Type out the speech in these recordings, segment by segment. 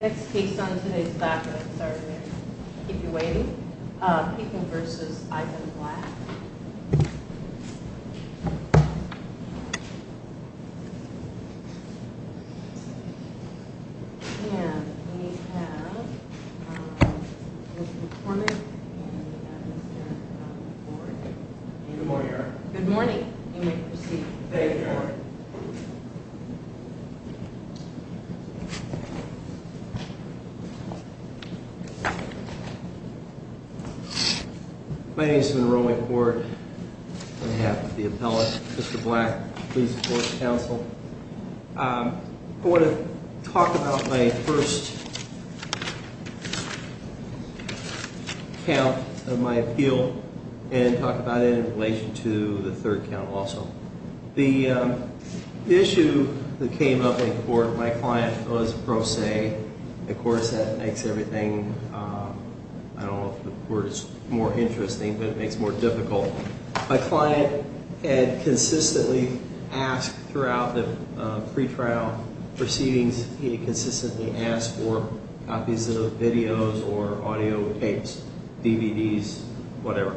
Next case on today's platform, sorry to keep you waiting, Peoples v. Ivan Black, and we have Mr. McCormick and Mr. McCormick. Good morning. Good morning. You may proceed. Thank you. My name is Monroe McCord. I have the appellate, Mr. Black. Please support the counsel. I want to talk about my first count of my appeal and talk about it in relation to the third count also. The issue that came up in court, my client was pro se. Of course, that makes everything, I don't know if the word is more interesting, but it makes it more difficult. My client had consistently asked throughout the pretrial proceedings, he had consistently asked for copies of videos or audio tapes, DVDs, whatever.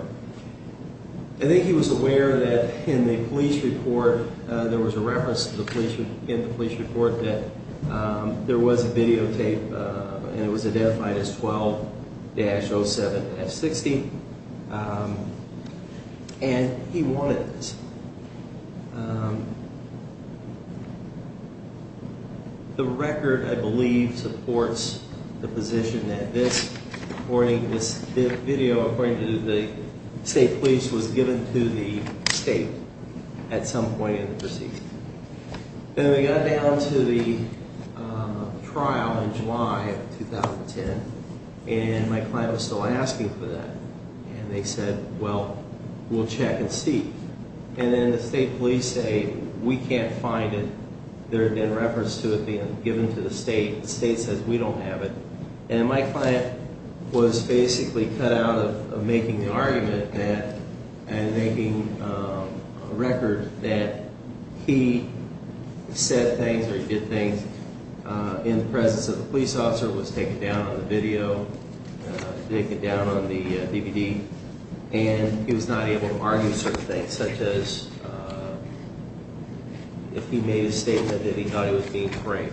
I think he was aware that in the police report, there was a reference in the police report that there was a videotape and it was identified as 12-07-60. And he wanted this. The record, I believe, supports the position that this recording, this video according to the state police was given to the state at some point in the proceedings. Then we got down to the trial in July of 2010. And my client was still asking for that. And they said, well, we'll check and see. And then the state police say, we can't find it. There had been reference to it being given to the state. The state says, we don't have it. And my client was basically cut out of making the argument that and making a record that he said things or did things in the presence of the police officer, was taken down on the video, taken down on the DVD. And he was not able to argue certain things, such as if he made a statement that he thought he was being frank.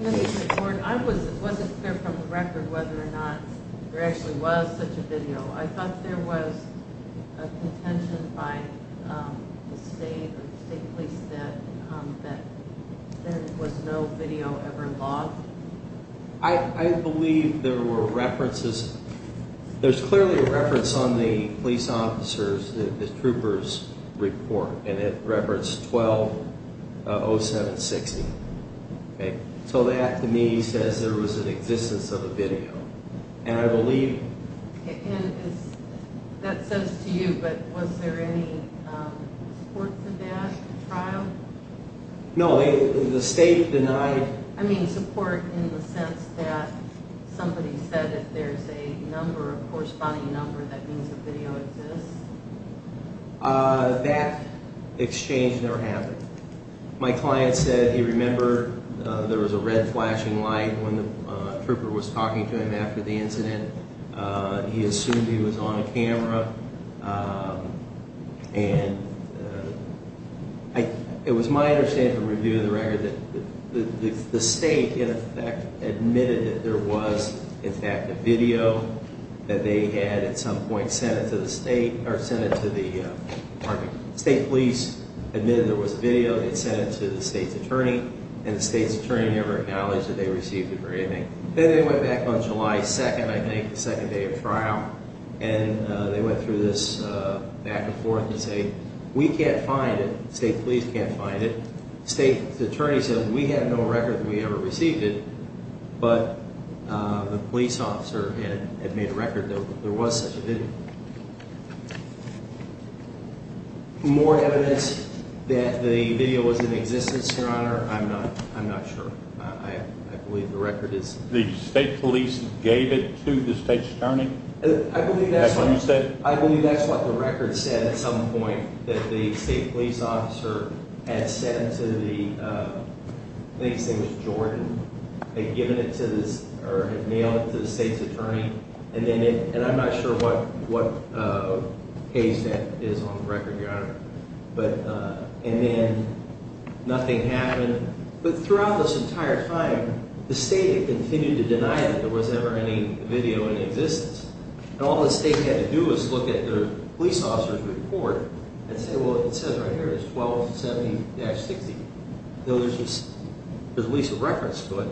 In the report, it wasn't clear from the record whether or not there actually was such a video. I thought there was a contention by the state or the state police that there was no video ever logged. I believe there were references. There's clearly a reference on the police officers, the troopers' report. And it referenced 120760. So that, to me, says there was an existence of a video. And I believe... And that says to you, but was there any support for that trial? No. The state denied... I mean, support in the sense that somebody said if there's a number, a corresponding number, that means a video exists? That exchange never happened. My client said he remembered there was a red flashing light when the trooper was talking to him after the incident. And it was my understanding from reviewing the record that the state, in effect, admitted that there was, in fact, a video that they had at some point sent it to the state. Or sent it to the department. The state police admitted there was a video. They sent it to the state's attorney. And the state's attorney never acknowledged that they received it or anything. Then they went back on July 2nd, I think, the second day of trial. And they went through this back and forth to say, we can't find it. The state police can't find it. The state's attorney said, we have no record that we ever received it. But the police officer had made a record that there was such a video. More evidence that the video was in existence, Your Honor, I'm not sure. I believe the record is... The state police gave it to the state's attorney? I believe that's what... That's what you said? I believe that's what the record said at some point. That the state police officer had sent it to the, I think his name was Jordan. They'd given it to the, or had mailed it to the state's attorney. And I'm not sure what page that is on the record, Your Honor. But, and then nothing happened. But throughout this entire time, the state had continued to deny that there was ever any video in existence. And all the state had to do was look at the police officer's report and say, well, it says right here, it's 1270-60. There's at least a reference to it.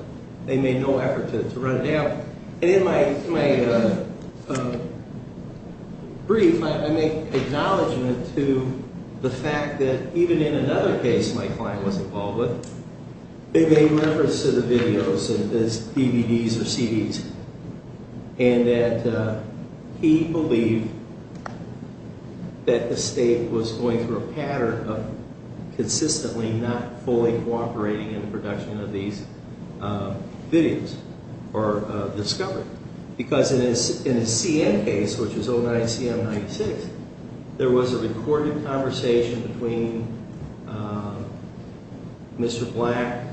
They made no effort to run it down. And in my brief, I make acknowledgment to the fact that even in another case my client was involved with, they made reference to the videos as DVDs or CDs. And that he believed that the state was going through a pattern of consistently not fully cooperating in the production of these videos. Or discovered. Because in his CN case, which was 09-CM-96, there was a recorded conversation between Mr. Black,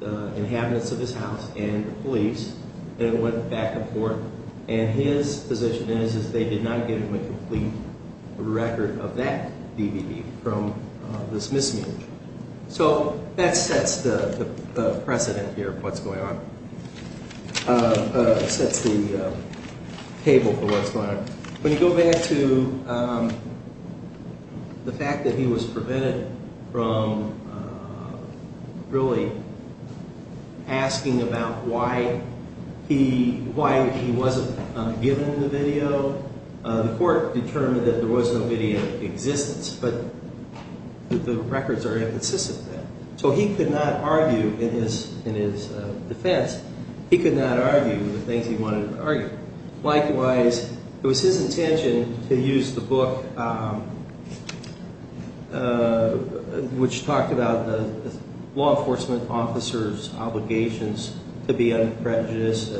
the inhabitants of his house, and the police. And it went back and forth. And his position is, is they did not give him a complete record of that DVD from this misuse. So that sets the precedent here of what's going on. Sets the table for what's going on. When you go back to the fact that he was prevented from really asking about why he wasn't given the video, the court determined that there was no video in existence. But the records are inconsistent with that. So he could not argue in his defense. He could not argue the things he wanted to argue. Likewise, it was his intention to use the book, which talked about the law enforcement officer's obligations to be unbiased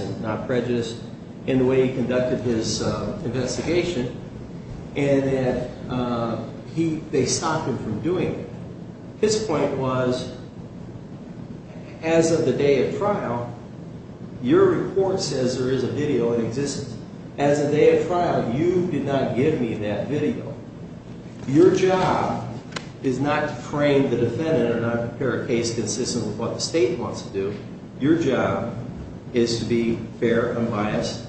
and not prejudiced, in the way he conducted his investigation. And that they stopped him from doing it. His point was, as of the day of trial, your report says there is a video in existence. As of the day of trial, you did not give me that video. Your job is not to frame the defendant or not prepare a case consistent with what the state wants to do. Your job is to be fair, unbiased,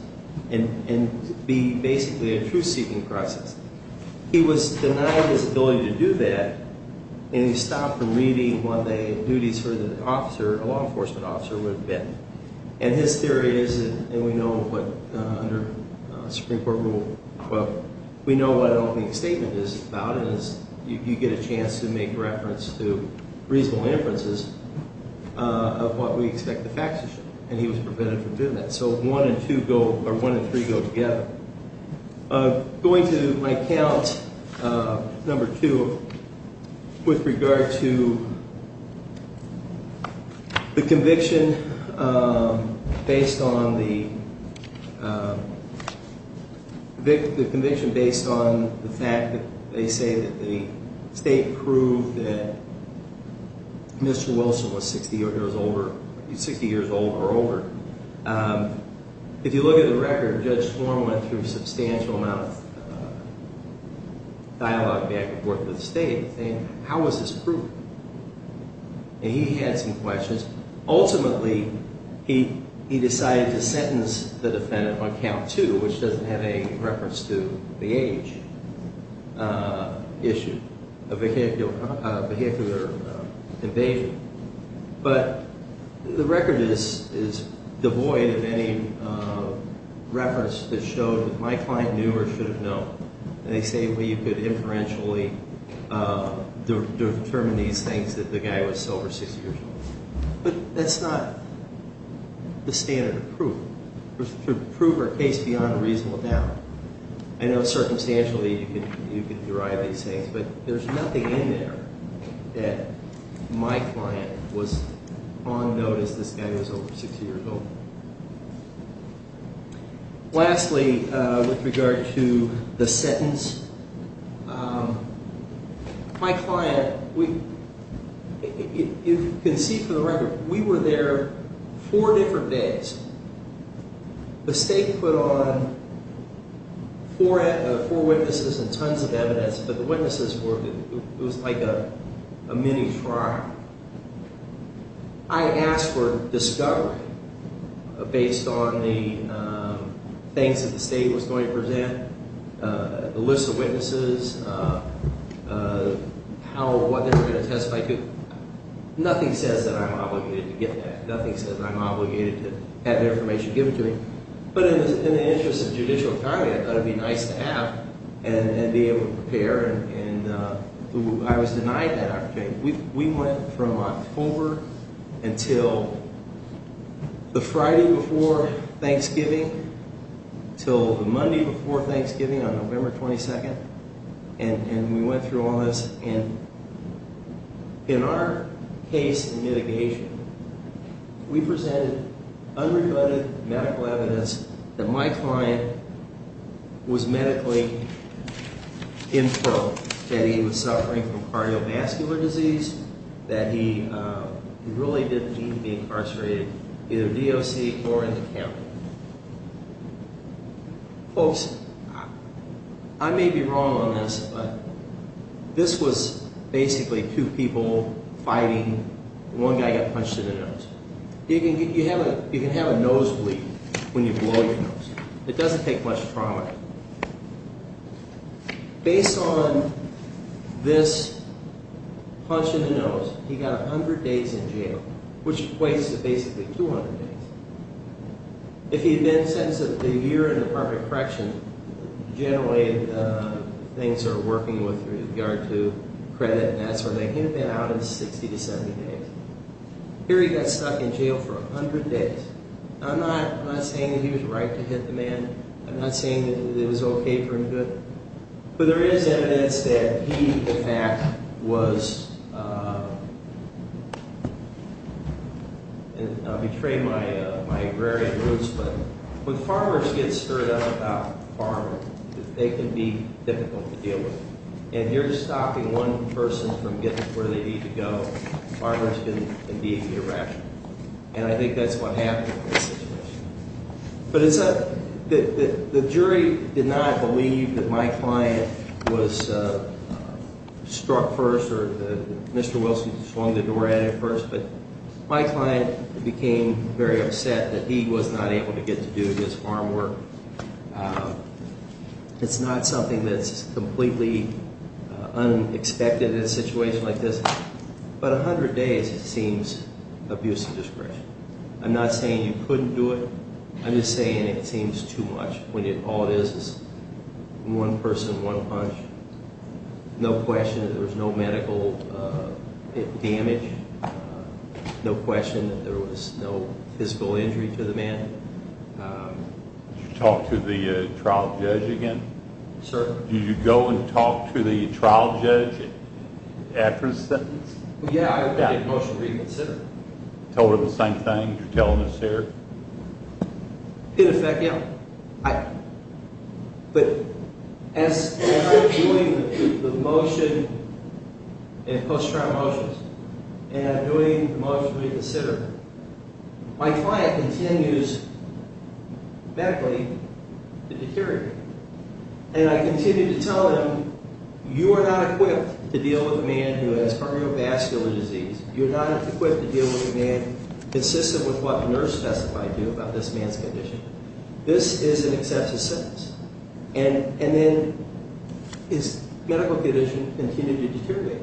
and be basically a truth-seeking process. He was denied his ability to do that, and he stopped from reading what the duties for the law enforcement officer would have been. And his theory is, and we know what, under Supreme Court Rule 12, we know what an opening statement is about, and you get a chance to make reference to reasonable inferences of what we expect the facts to show. And he was prevented from doing that. So one and three go together. Going to my count, number two, with regard to the conviction based on the fact that they say that the state proved that Mr. Wilson was 60 years old or older. If you look at the record, Judge Swarm went through a substantial amount of dialogue back and forth with the state saying, how is this proven? And he had some questions. Ultimately, he decided to sentence the defendant on count two, which doesn't have any reference to the age issue, a vehicular invasion. But the record is devoid of any reference that showed that my client knew or should have known. And they say, well, you could inferentially determine these things that the guy was sober 60 years old. But that's not the standard of proof. To prove a case beyond a reasonable doubt. I know circumstantially you could derive these things, but there's nothing in there that my client was on notice this guy was over 60 years old. Lastly, with regard to the sentence, my client, you can see from the record, we were there four different days. The state put on four witnesses and tons of evidence, but the witnesses were, it was like a mini trial. I asked for discovery based on the things that the state was going to present, the list of witnesses, what they were going to testify to. Nothing says that I'm obligated to get that. Nothing says that I'm obligated to have information given to me. But in the interest of judicial time, I thought it would be nice to have and be able to prepare. And I was denied that opportunity. We went from October until the Friday before Thanksgiving until the Monday before Thanksgiving on November 22nd. And we went through all this. And in our case in mitigation, we presented unreported medical evidence that my client was medically in pro. That he was suffering from cardiovascular disease. That he really didn't need to be incarcerated, either DOC or in the camp. Folks, I may be wrong on this, but this was basically two people fighting. One guy got punched in the nose. You can have a nosebleed when you blow your nose. It doesn't take much trauma. Based on this punch in the nose, he got 100 days in jail, which equates to basically 200 days. If he had been sentenced to a year in apartment correction, generally the things they're working with with regard to credit and that sort of thing, he would have been out in 60 to 70 days. Here he got stuck in jail for 100 days. I'm not saying that he was right to hit the man. I'm not saying that it was okay for him to do it. But there is evidence that he, in fact, was, and I'll betray my agrarian roots, but when farmers get stirred up about farming, they can be difficult to deal with. And you're stopping one person from getting where they need to go. Farmers can indeed be irrational. And I think that's what happened in this situation. But the jury did not believe that my client was struck first or that Mr. Wilson swung the door at him first. But my client became very upset that he was not able to get to do his farm work. It's not something that's completely unexpected in a situation like this. But 100 days seems abusive discretion. I'm not saying you couldn't do it. I'm just saying it seems too much when all it is is one person, one punch. No question that there was no medical damage. No question that there was no physical injury to the man. Did you talk to the trial judge again? Sir? Did you go and talk to the trial judge after the sentence? Yeah, I did a motion to reconsider. Tell her the same thing you're telling us here? Pit effect, yeah. But as I'm doing the motion and post-trial motions, and I'm doing the motion to reconsider, my client continues medically to deteriorate. And I continue to tell him, you are not equipped to deal with a man who has cardiovascular disease. You're not equipped to deal with a man consistent with what the nurse specified to you about this man's condition. This is an excessive sentence. And then his medical condition continued to deteriorate.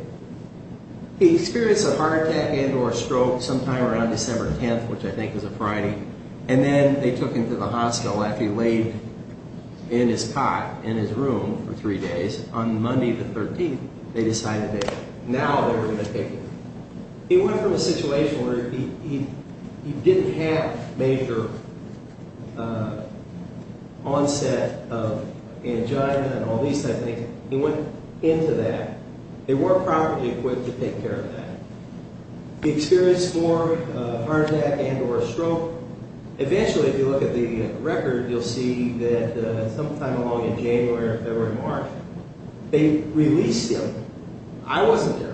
He experienced a heart attack and or a stroke sometime around December 10th, which I think was a Friday. And then they took him to the hospital after he laid in his cot in his room for three days. On Monday the 13th, they decided that now they were going to take him. He went from a situation where he didn't have major onset of angina and all these type things. He went into that. They weren't properly equipped to take care of that. Eventually, if you look at the record, you'll see that sometime along in January or February, March, they released him. I wasn't there.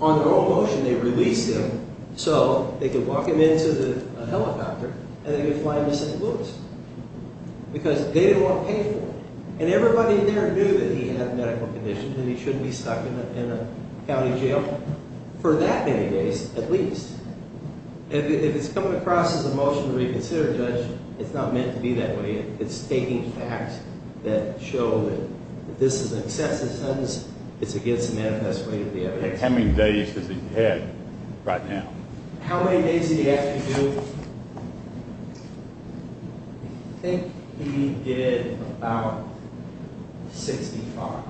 On their own motion, they released him so they could walk him into a helicopter and they could fly him to St. Louis. Because they didn't want to pay for it. And everybody there knew that he had medical conditions and he shouldn't be stuck in a county jail for that many days at least. If it's coming across as a motion to reconsider, Judge, it's not meant to be that way. It's stating facts that show that this is an excessive sentence. It's against the manifest way of the evidence. How many days does he have right now? How many days did he actually do? I think he did about 65.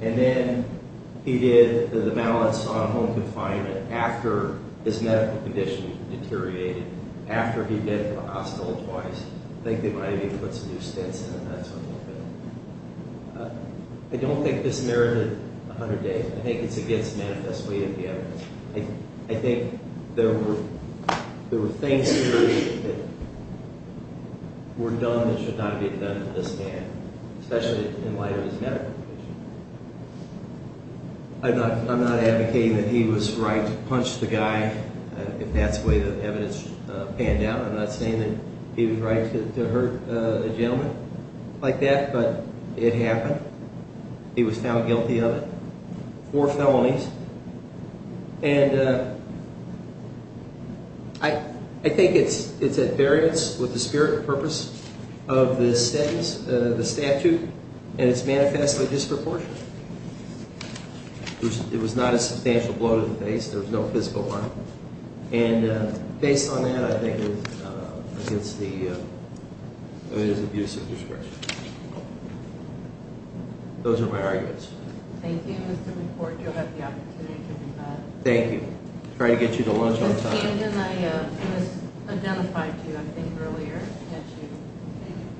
And then he did the malice on home confinement after his medical conditions deteriorated. After he did go to the hospital twice. I think they might have even put some new stints in him. I don't think this merited 100 days. I think it's against the manifest way of the evidence. I think there were things that were done that should not have been done to this man. Especially in light of his medical conditions. I'm not advocating that he was right to punch the guy if that's the way the evidence panned out. I'm not saying that he was right to hurt a gentleman like that. But it happened. He was found guilty of it. Four felonies. And I think it's at variance with the spirit and purpose of the statute. And it's manifestly disproportionate. It was not a substantial blow to the face. There was no physical harm. And based on that, I think it's against the abuse of discretion. Those are my arguments. Thank you, Mr. McCord. You'll have the opportunity to do that. Thank you. I'll try to get you to lunch on time. Ms. Camden, I misidentified you, I think, earlier. Did I get you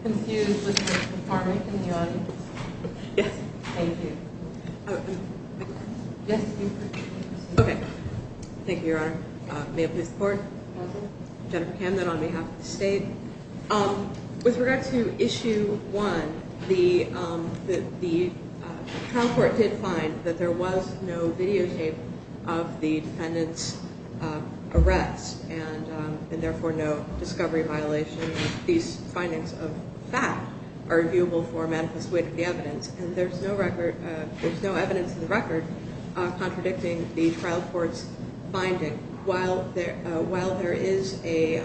confused with Ms. McCormick in the audience? Yes. Thank you. Okay. Thank you, Your Honor. May I please have the floor? Jennifer. Jennifer Camden on behalf of the state. With regard to Issue 1, the trial court did find that there was no videotape of the defendant's arrest and, therefore, no discovery of violation. These findings of fact are viewable for manifest wit of the evidence. And there's no evidence in the record contradicting the trial court's finding. While there is a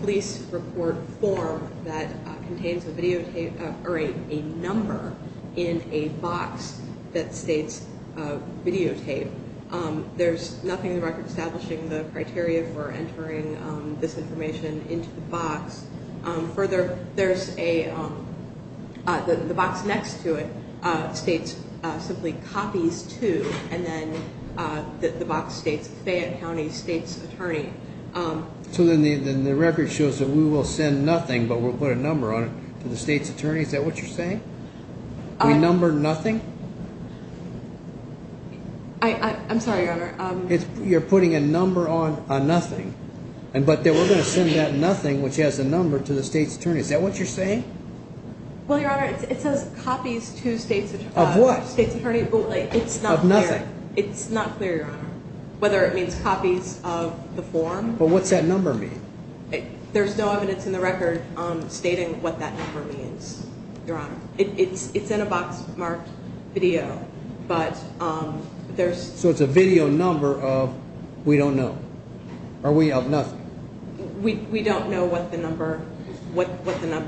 police report form that contains a videotape or a number in a box that states videotape, there's nothing in the record establishing the criteria for entering this information into the box. Further, there's a box next to it that states simply copies to, and then the box states Fayette County State's Attorney. So then the record shows that we will send nothing but we'll put a number on it to the state's attorney. Is that what you're saying? We number nothing? I'm sorry, Your Honor. You're putting a number on nothing, but that we're going to send that nothing, which has a number, to the state's attorney. Is that what you're saying? Well, Your Honor, it says copies to state's attorney. Of what? Of nothing. It's not clear, Your Honor, whether it means copies of the form. But what's that number mean? There's no evidence in the record stating what that number means, Your Honor. It's in a box marked video, but there's... So it's a video number of we don't know. Are we of nothing? We don't know what the number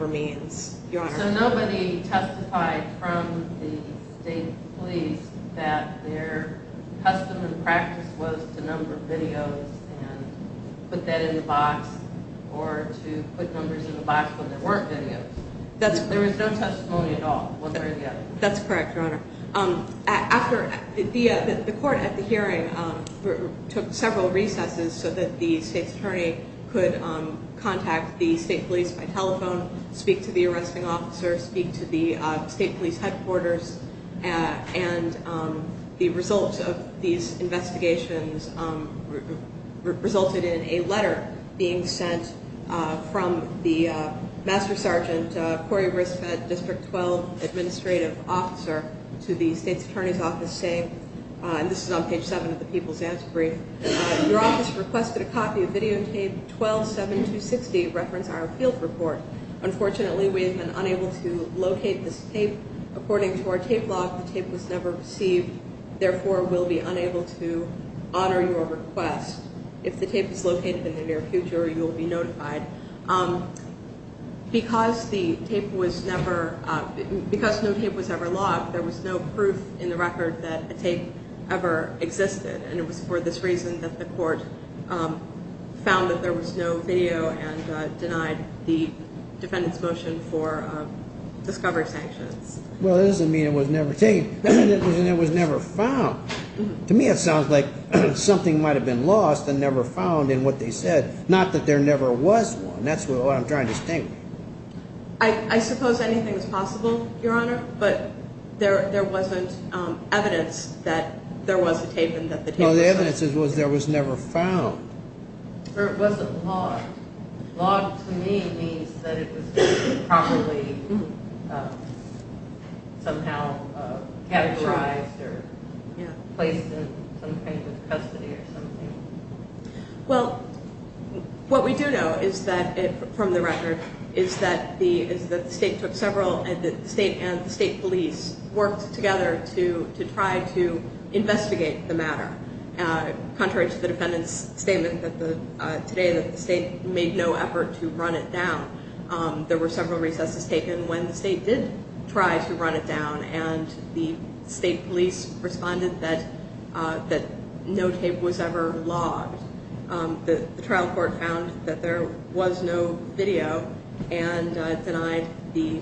means, Your Honor. So nobody testified from the state police that their custom and practice was to number videos and put that in the box or to put numbers in the box when there weren't videos. There was no testimony at all, one way or the other. That's correct, Your Honor. The court at the hearing took several recesses so that the state's attorney could contact the state police by telephone, speak to the arresting officer, speak to the state police headquarters, and the results of these investigations resulted in a letter being sent from the Master Sergeant Corey Risfet, District 12 Administrative Officer, to the state's attorney's office saying, and this is on page 7 of the People's Answer Brief, Your office requested a copy of videotape 12-7-260, reference our appeal report. Unfortunately, we have been unable to locate this tape. According to our tape log, the tape was never received, therefore we'll be unable to honor your request. If the tape is located in the near future, you will be notified. Because the tape was never, because no tape was ever logged, there was no proof in the record that a tape ever existed, and it was for this reason that the court found that there was no video and denied the defendant's motion for discovery sanctions. Well, it doesn't mean it was never taken. That means it was never found. To me it sounds like something might have been lost and never found in what they said, not that there never was one. That's what I'm trying to think. I suppose anything is possible, Your Honor, but there wasn't evidence that there was a tape and that the tape was found. Well, the evidence was there was never found. Or it wasn't logged. Logged to me means that it was probably somehow categorized or placed in some kind of custody or something. Well, what we do know is that, from the record, is that the state and the state police worked together to try to investigate the matter. Contrary to the defendant's statement today that the state made no effort to run it down, there were several recesses taken when the state did try to run it down and the state police responded that no tape was ever logged. The trial court found that there was no video and denied the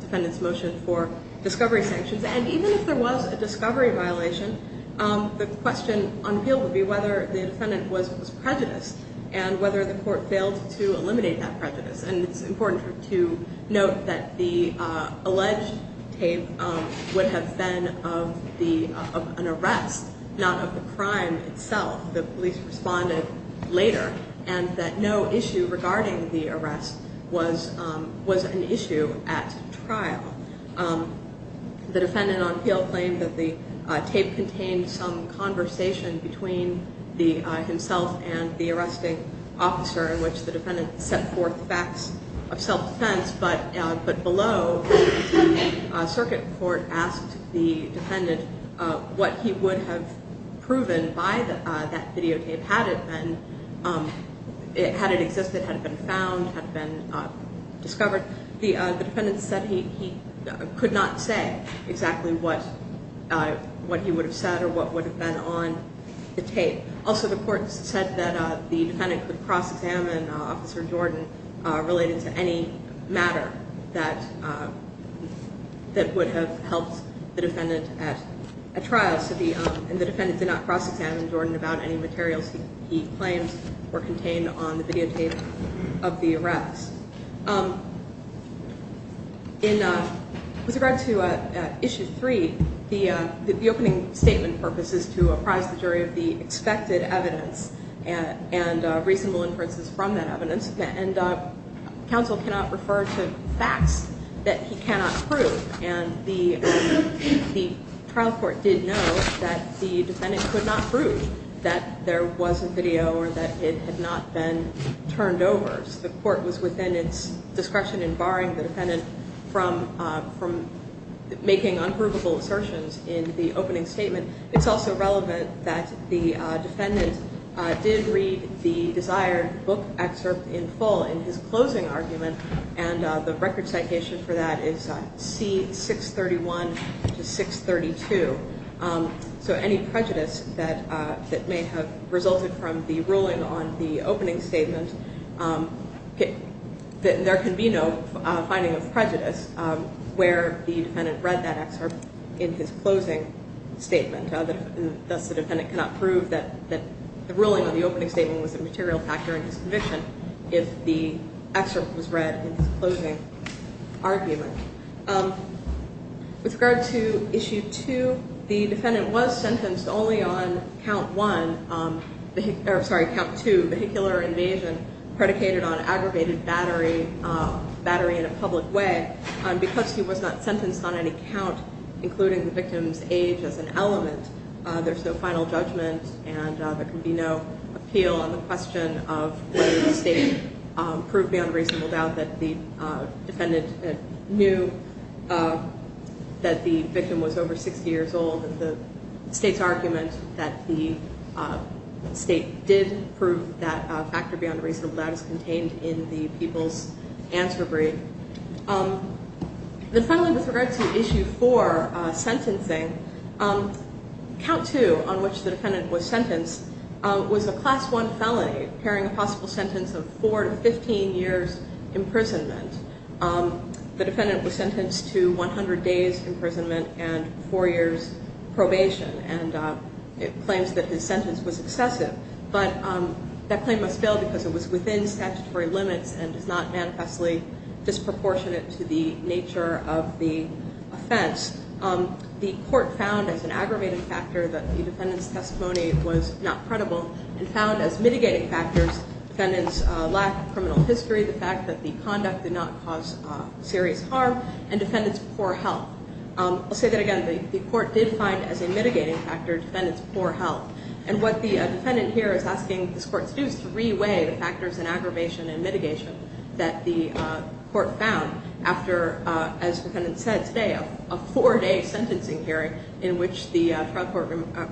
defendant's motion for discovery sanctions. And even if there was a discovery violation, the question on appeal would be whether the defendant was prejudiced and whether the court failed to eliminate that prejudice. And it's important to note that the alleged tape would have been of an arrest, not of the crime itself. The police responded later and that no issue regarding the arrest was an issue at trial. The defendant on appeal claimed that the tape contained some conversation between himself and the arresting officer in which the defendant set forth facts of self-defense, but below, the circuit court asked the defendant what he would have proven by that videotape had it existed, had it been found, had it been discovered. The defendant said he could not say exactly what he would have said or what would have been on the tape. Also, the court said that the defendant could cross-examine Officer Jordan related to any matter that would have helped the defendant at trial. And the defendant did not cross-examine Jordan about any materials he claimed were contained on the videotape of the arrest. With regard to Issue 3, the opening statement purpose is to apprise the jury of the expected evidence and reasonable inferences from that evidence. And counsel cannot refer to facts that he cannot prove. And the trial court did note that the defendant could not prove that there was a video or that it had not been turned over. So the court was within its discretion in barring the defendant from making unprovable assertions in the opening statement. It's also relevant that the defendant did read the desired book excerpt in full in his closing argument. And the record citation for that is C631 to 632. So any prejudice that may have resulted from the ruling on the opening statement, there can be no finding of prejudice where the defendant read that excerpt in his closing statement. Thus, the defendant cannot prove that the ruling on the opening statement was a material factor in his conviction if the excerpt was read in his closing argument. With regard to Issue 2, the defendant was sentenced only on Count 2, vehicular invasion, predicated on aggravated battery in a public way. Because he was not sentenced on any count, including the victim's age as an element, there's no final judgment and there can be no appeal on the question of whether the state proved beyond reasonable doubt that the defendant knew that the victim was over 60 years old. The state's argument that the state did prove that factor beyond reasonable doubt is contained in the People's Answer Brief. Then finally, with regard to Issue 4, sentencing, Count 2, on which the defendant was sentenced, was a Class 1 felony pairing a possible sentence of 4 to 15 years imprisonment. The defendant was sentenced to 100 days imprisonment and 4 years probation, and it claims that his sentence was excessive. But that claim must fail because it was within statutory limits and is not manifestly disproportionate to the nature of the offense. The court found as an aggravated factor that the defendant's testimony was not credible and found as mitigating factors the defendant's lack of criminal history, the fact that the conduct did not cause serious harm, and defendant's poor health. I'll say that again. The court did find as a mitigating factor defendant's poor health. And what the defendant here is asking this court to do is to re-weigh the factors in aggravation and mitigation that the court found after, as the defendant said today, a four-day sentencing hearing in which the trial court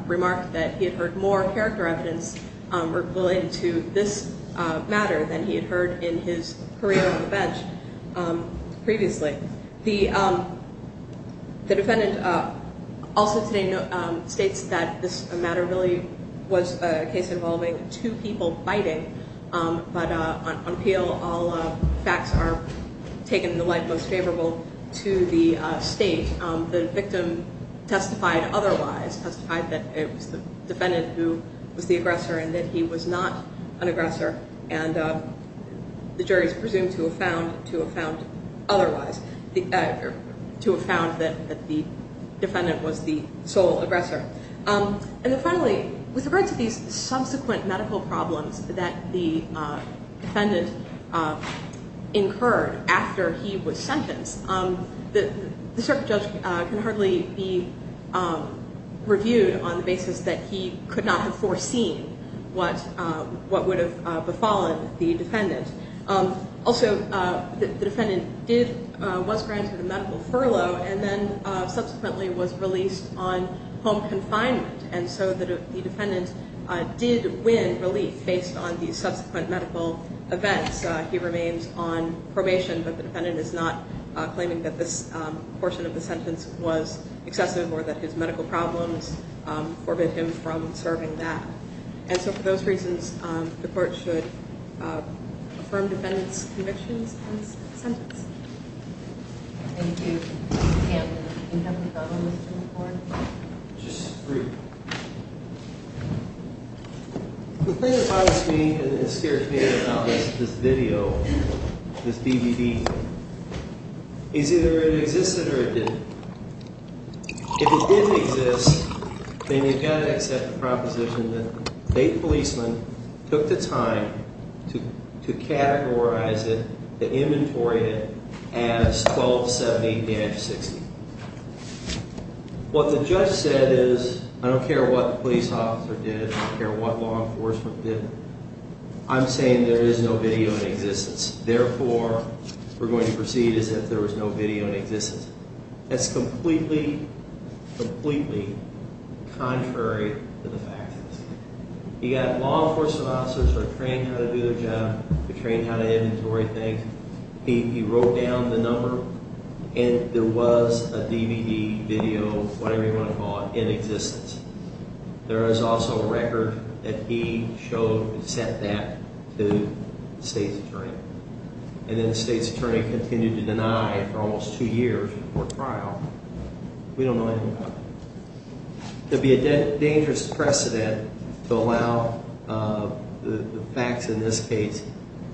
remarked that he had heard more character evidence related to this matter than he had heard in his career on the bench previously. The defendant also today states that this matter really was a case involving two people fighting, but on appeal all facts are taken in the light most favorable to the state. The victim testified otherwise, testified that it was the defendant who was the aggressor and that he was not an aggressor, and the jury is presumed to have found otherwise, to have found that the defendant was the sole aggressor. And then finally, with regard to these subsequent medical problems that the defendant incurred after he was sentenced, the circuit judge can hardly be reviewed on the basis that he could not have foreseen what would have befallen the defendant. Also, the defendant was granted a medical furlough and then subsequently was released on home confinement, and so the defendant did win relief based on these subsequent medical events. Yes, he remains on probation, but the defendant is not claiming that this portion of the sentence was excessive or that his medical problems forbid him from serving that. And so for those reasons, the court should affirm the defendant's convictions and sentence. Thank you. Mr. Campbell, do you have any further questions for him? Just briefly. The thing that bothers me and scares me about this video, this DVD, is either it existed or it didn't. If it didn't exist, then you've got to accept the proposition that the state policeman took the time to categorize it, to inventory it as 1270-60. What the judge said is, I don't care what the police officer did. I don't care what law enforcement did. I'm saying there is no video in existence. Therefore, we're going to proceed as if there was no video in existence. That's completely, completely contrary to the facts. You've got law enforcement officers who are trained how to do their job. They're trained how to inventory things. He wrote down the number, and there was a DVD, video, whatever you want to call it, in existence. There is also a record that he showed and sent that to the state's attorney. And then the state's attorney continued to deny for almost two years before trial. It would be a dangerous precedent to allow the facts in this case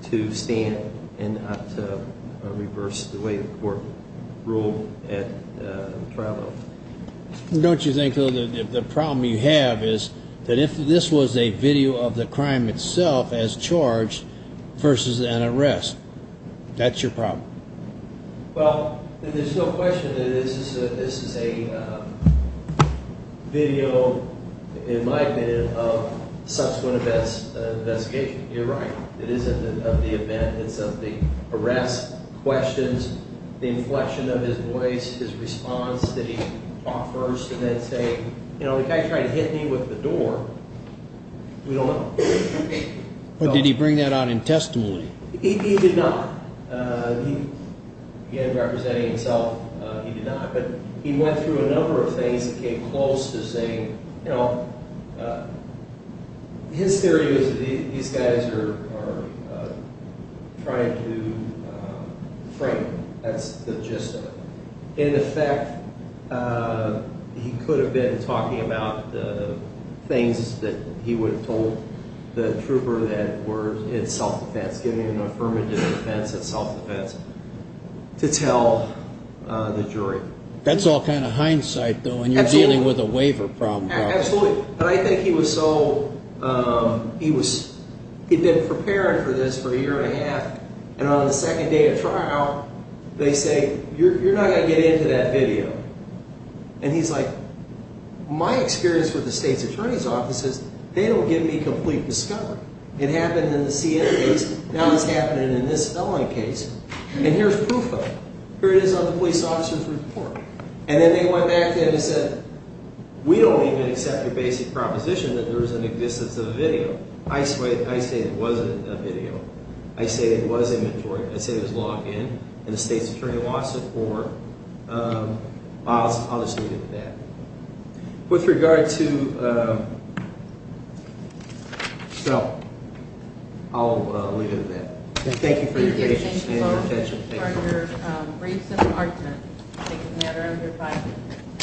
to stand and not to reverse the way the court ruled at the trial level. Don't you think, though, the problem you have is that if this was a video of the crime itself as charged versus an arrest, that's your problem? Well, there's no question that this is a video, in my opinion, of subsequent investigation. You're right. It isn't of the event. It's of the arrests, questions, the inflection of his voice, his response that he offers, and then saying, you know, the guy tried to hit me with the door. We don't know. Did he bring that out in testimony? He did not. Again, representing himself, he did not. But he went through a number of things and came close to saying, you know, his theory is that these guys are trying to frame him. That's the gist of it. In effect, he could have been talking about the things that he would have told the trooper that were in self-defense, giving an affirmative defense in self-defense, to tell the jury. That's all kind of hindsight, though, when you're dealing with a waiver problem. Absolutely. But I think he was so—he'd been preparing for this for a year and a half, and on the second day of trial, they say, you're not going to get into that video. And he's like, my experience with the state's attorney's office is they don't give me complete discovery. It happened in the CNN case. Now it's happening in this felony case. And here's proof of it. Here it is on the police officer's report. And then they went back to him and said, we don't even accept your basic proposition that there's an existence of a video. I say it wasn't a video. I say it was inventory. I say it was logged in. And the state's attorney wants it. I'll just leave it at that. With regard to—well, I'll leave it at that. Thank you for your patience and your attention. Thank you for your brief self-argument taking matter under fire.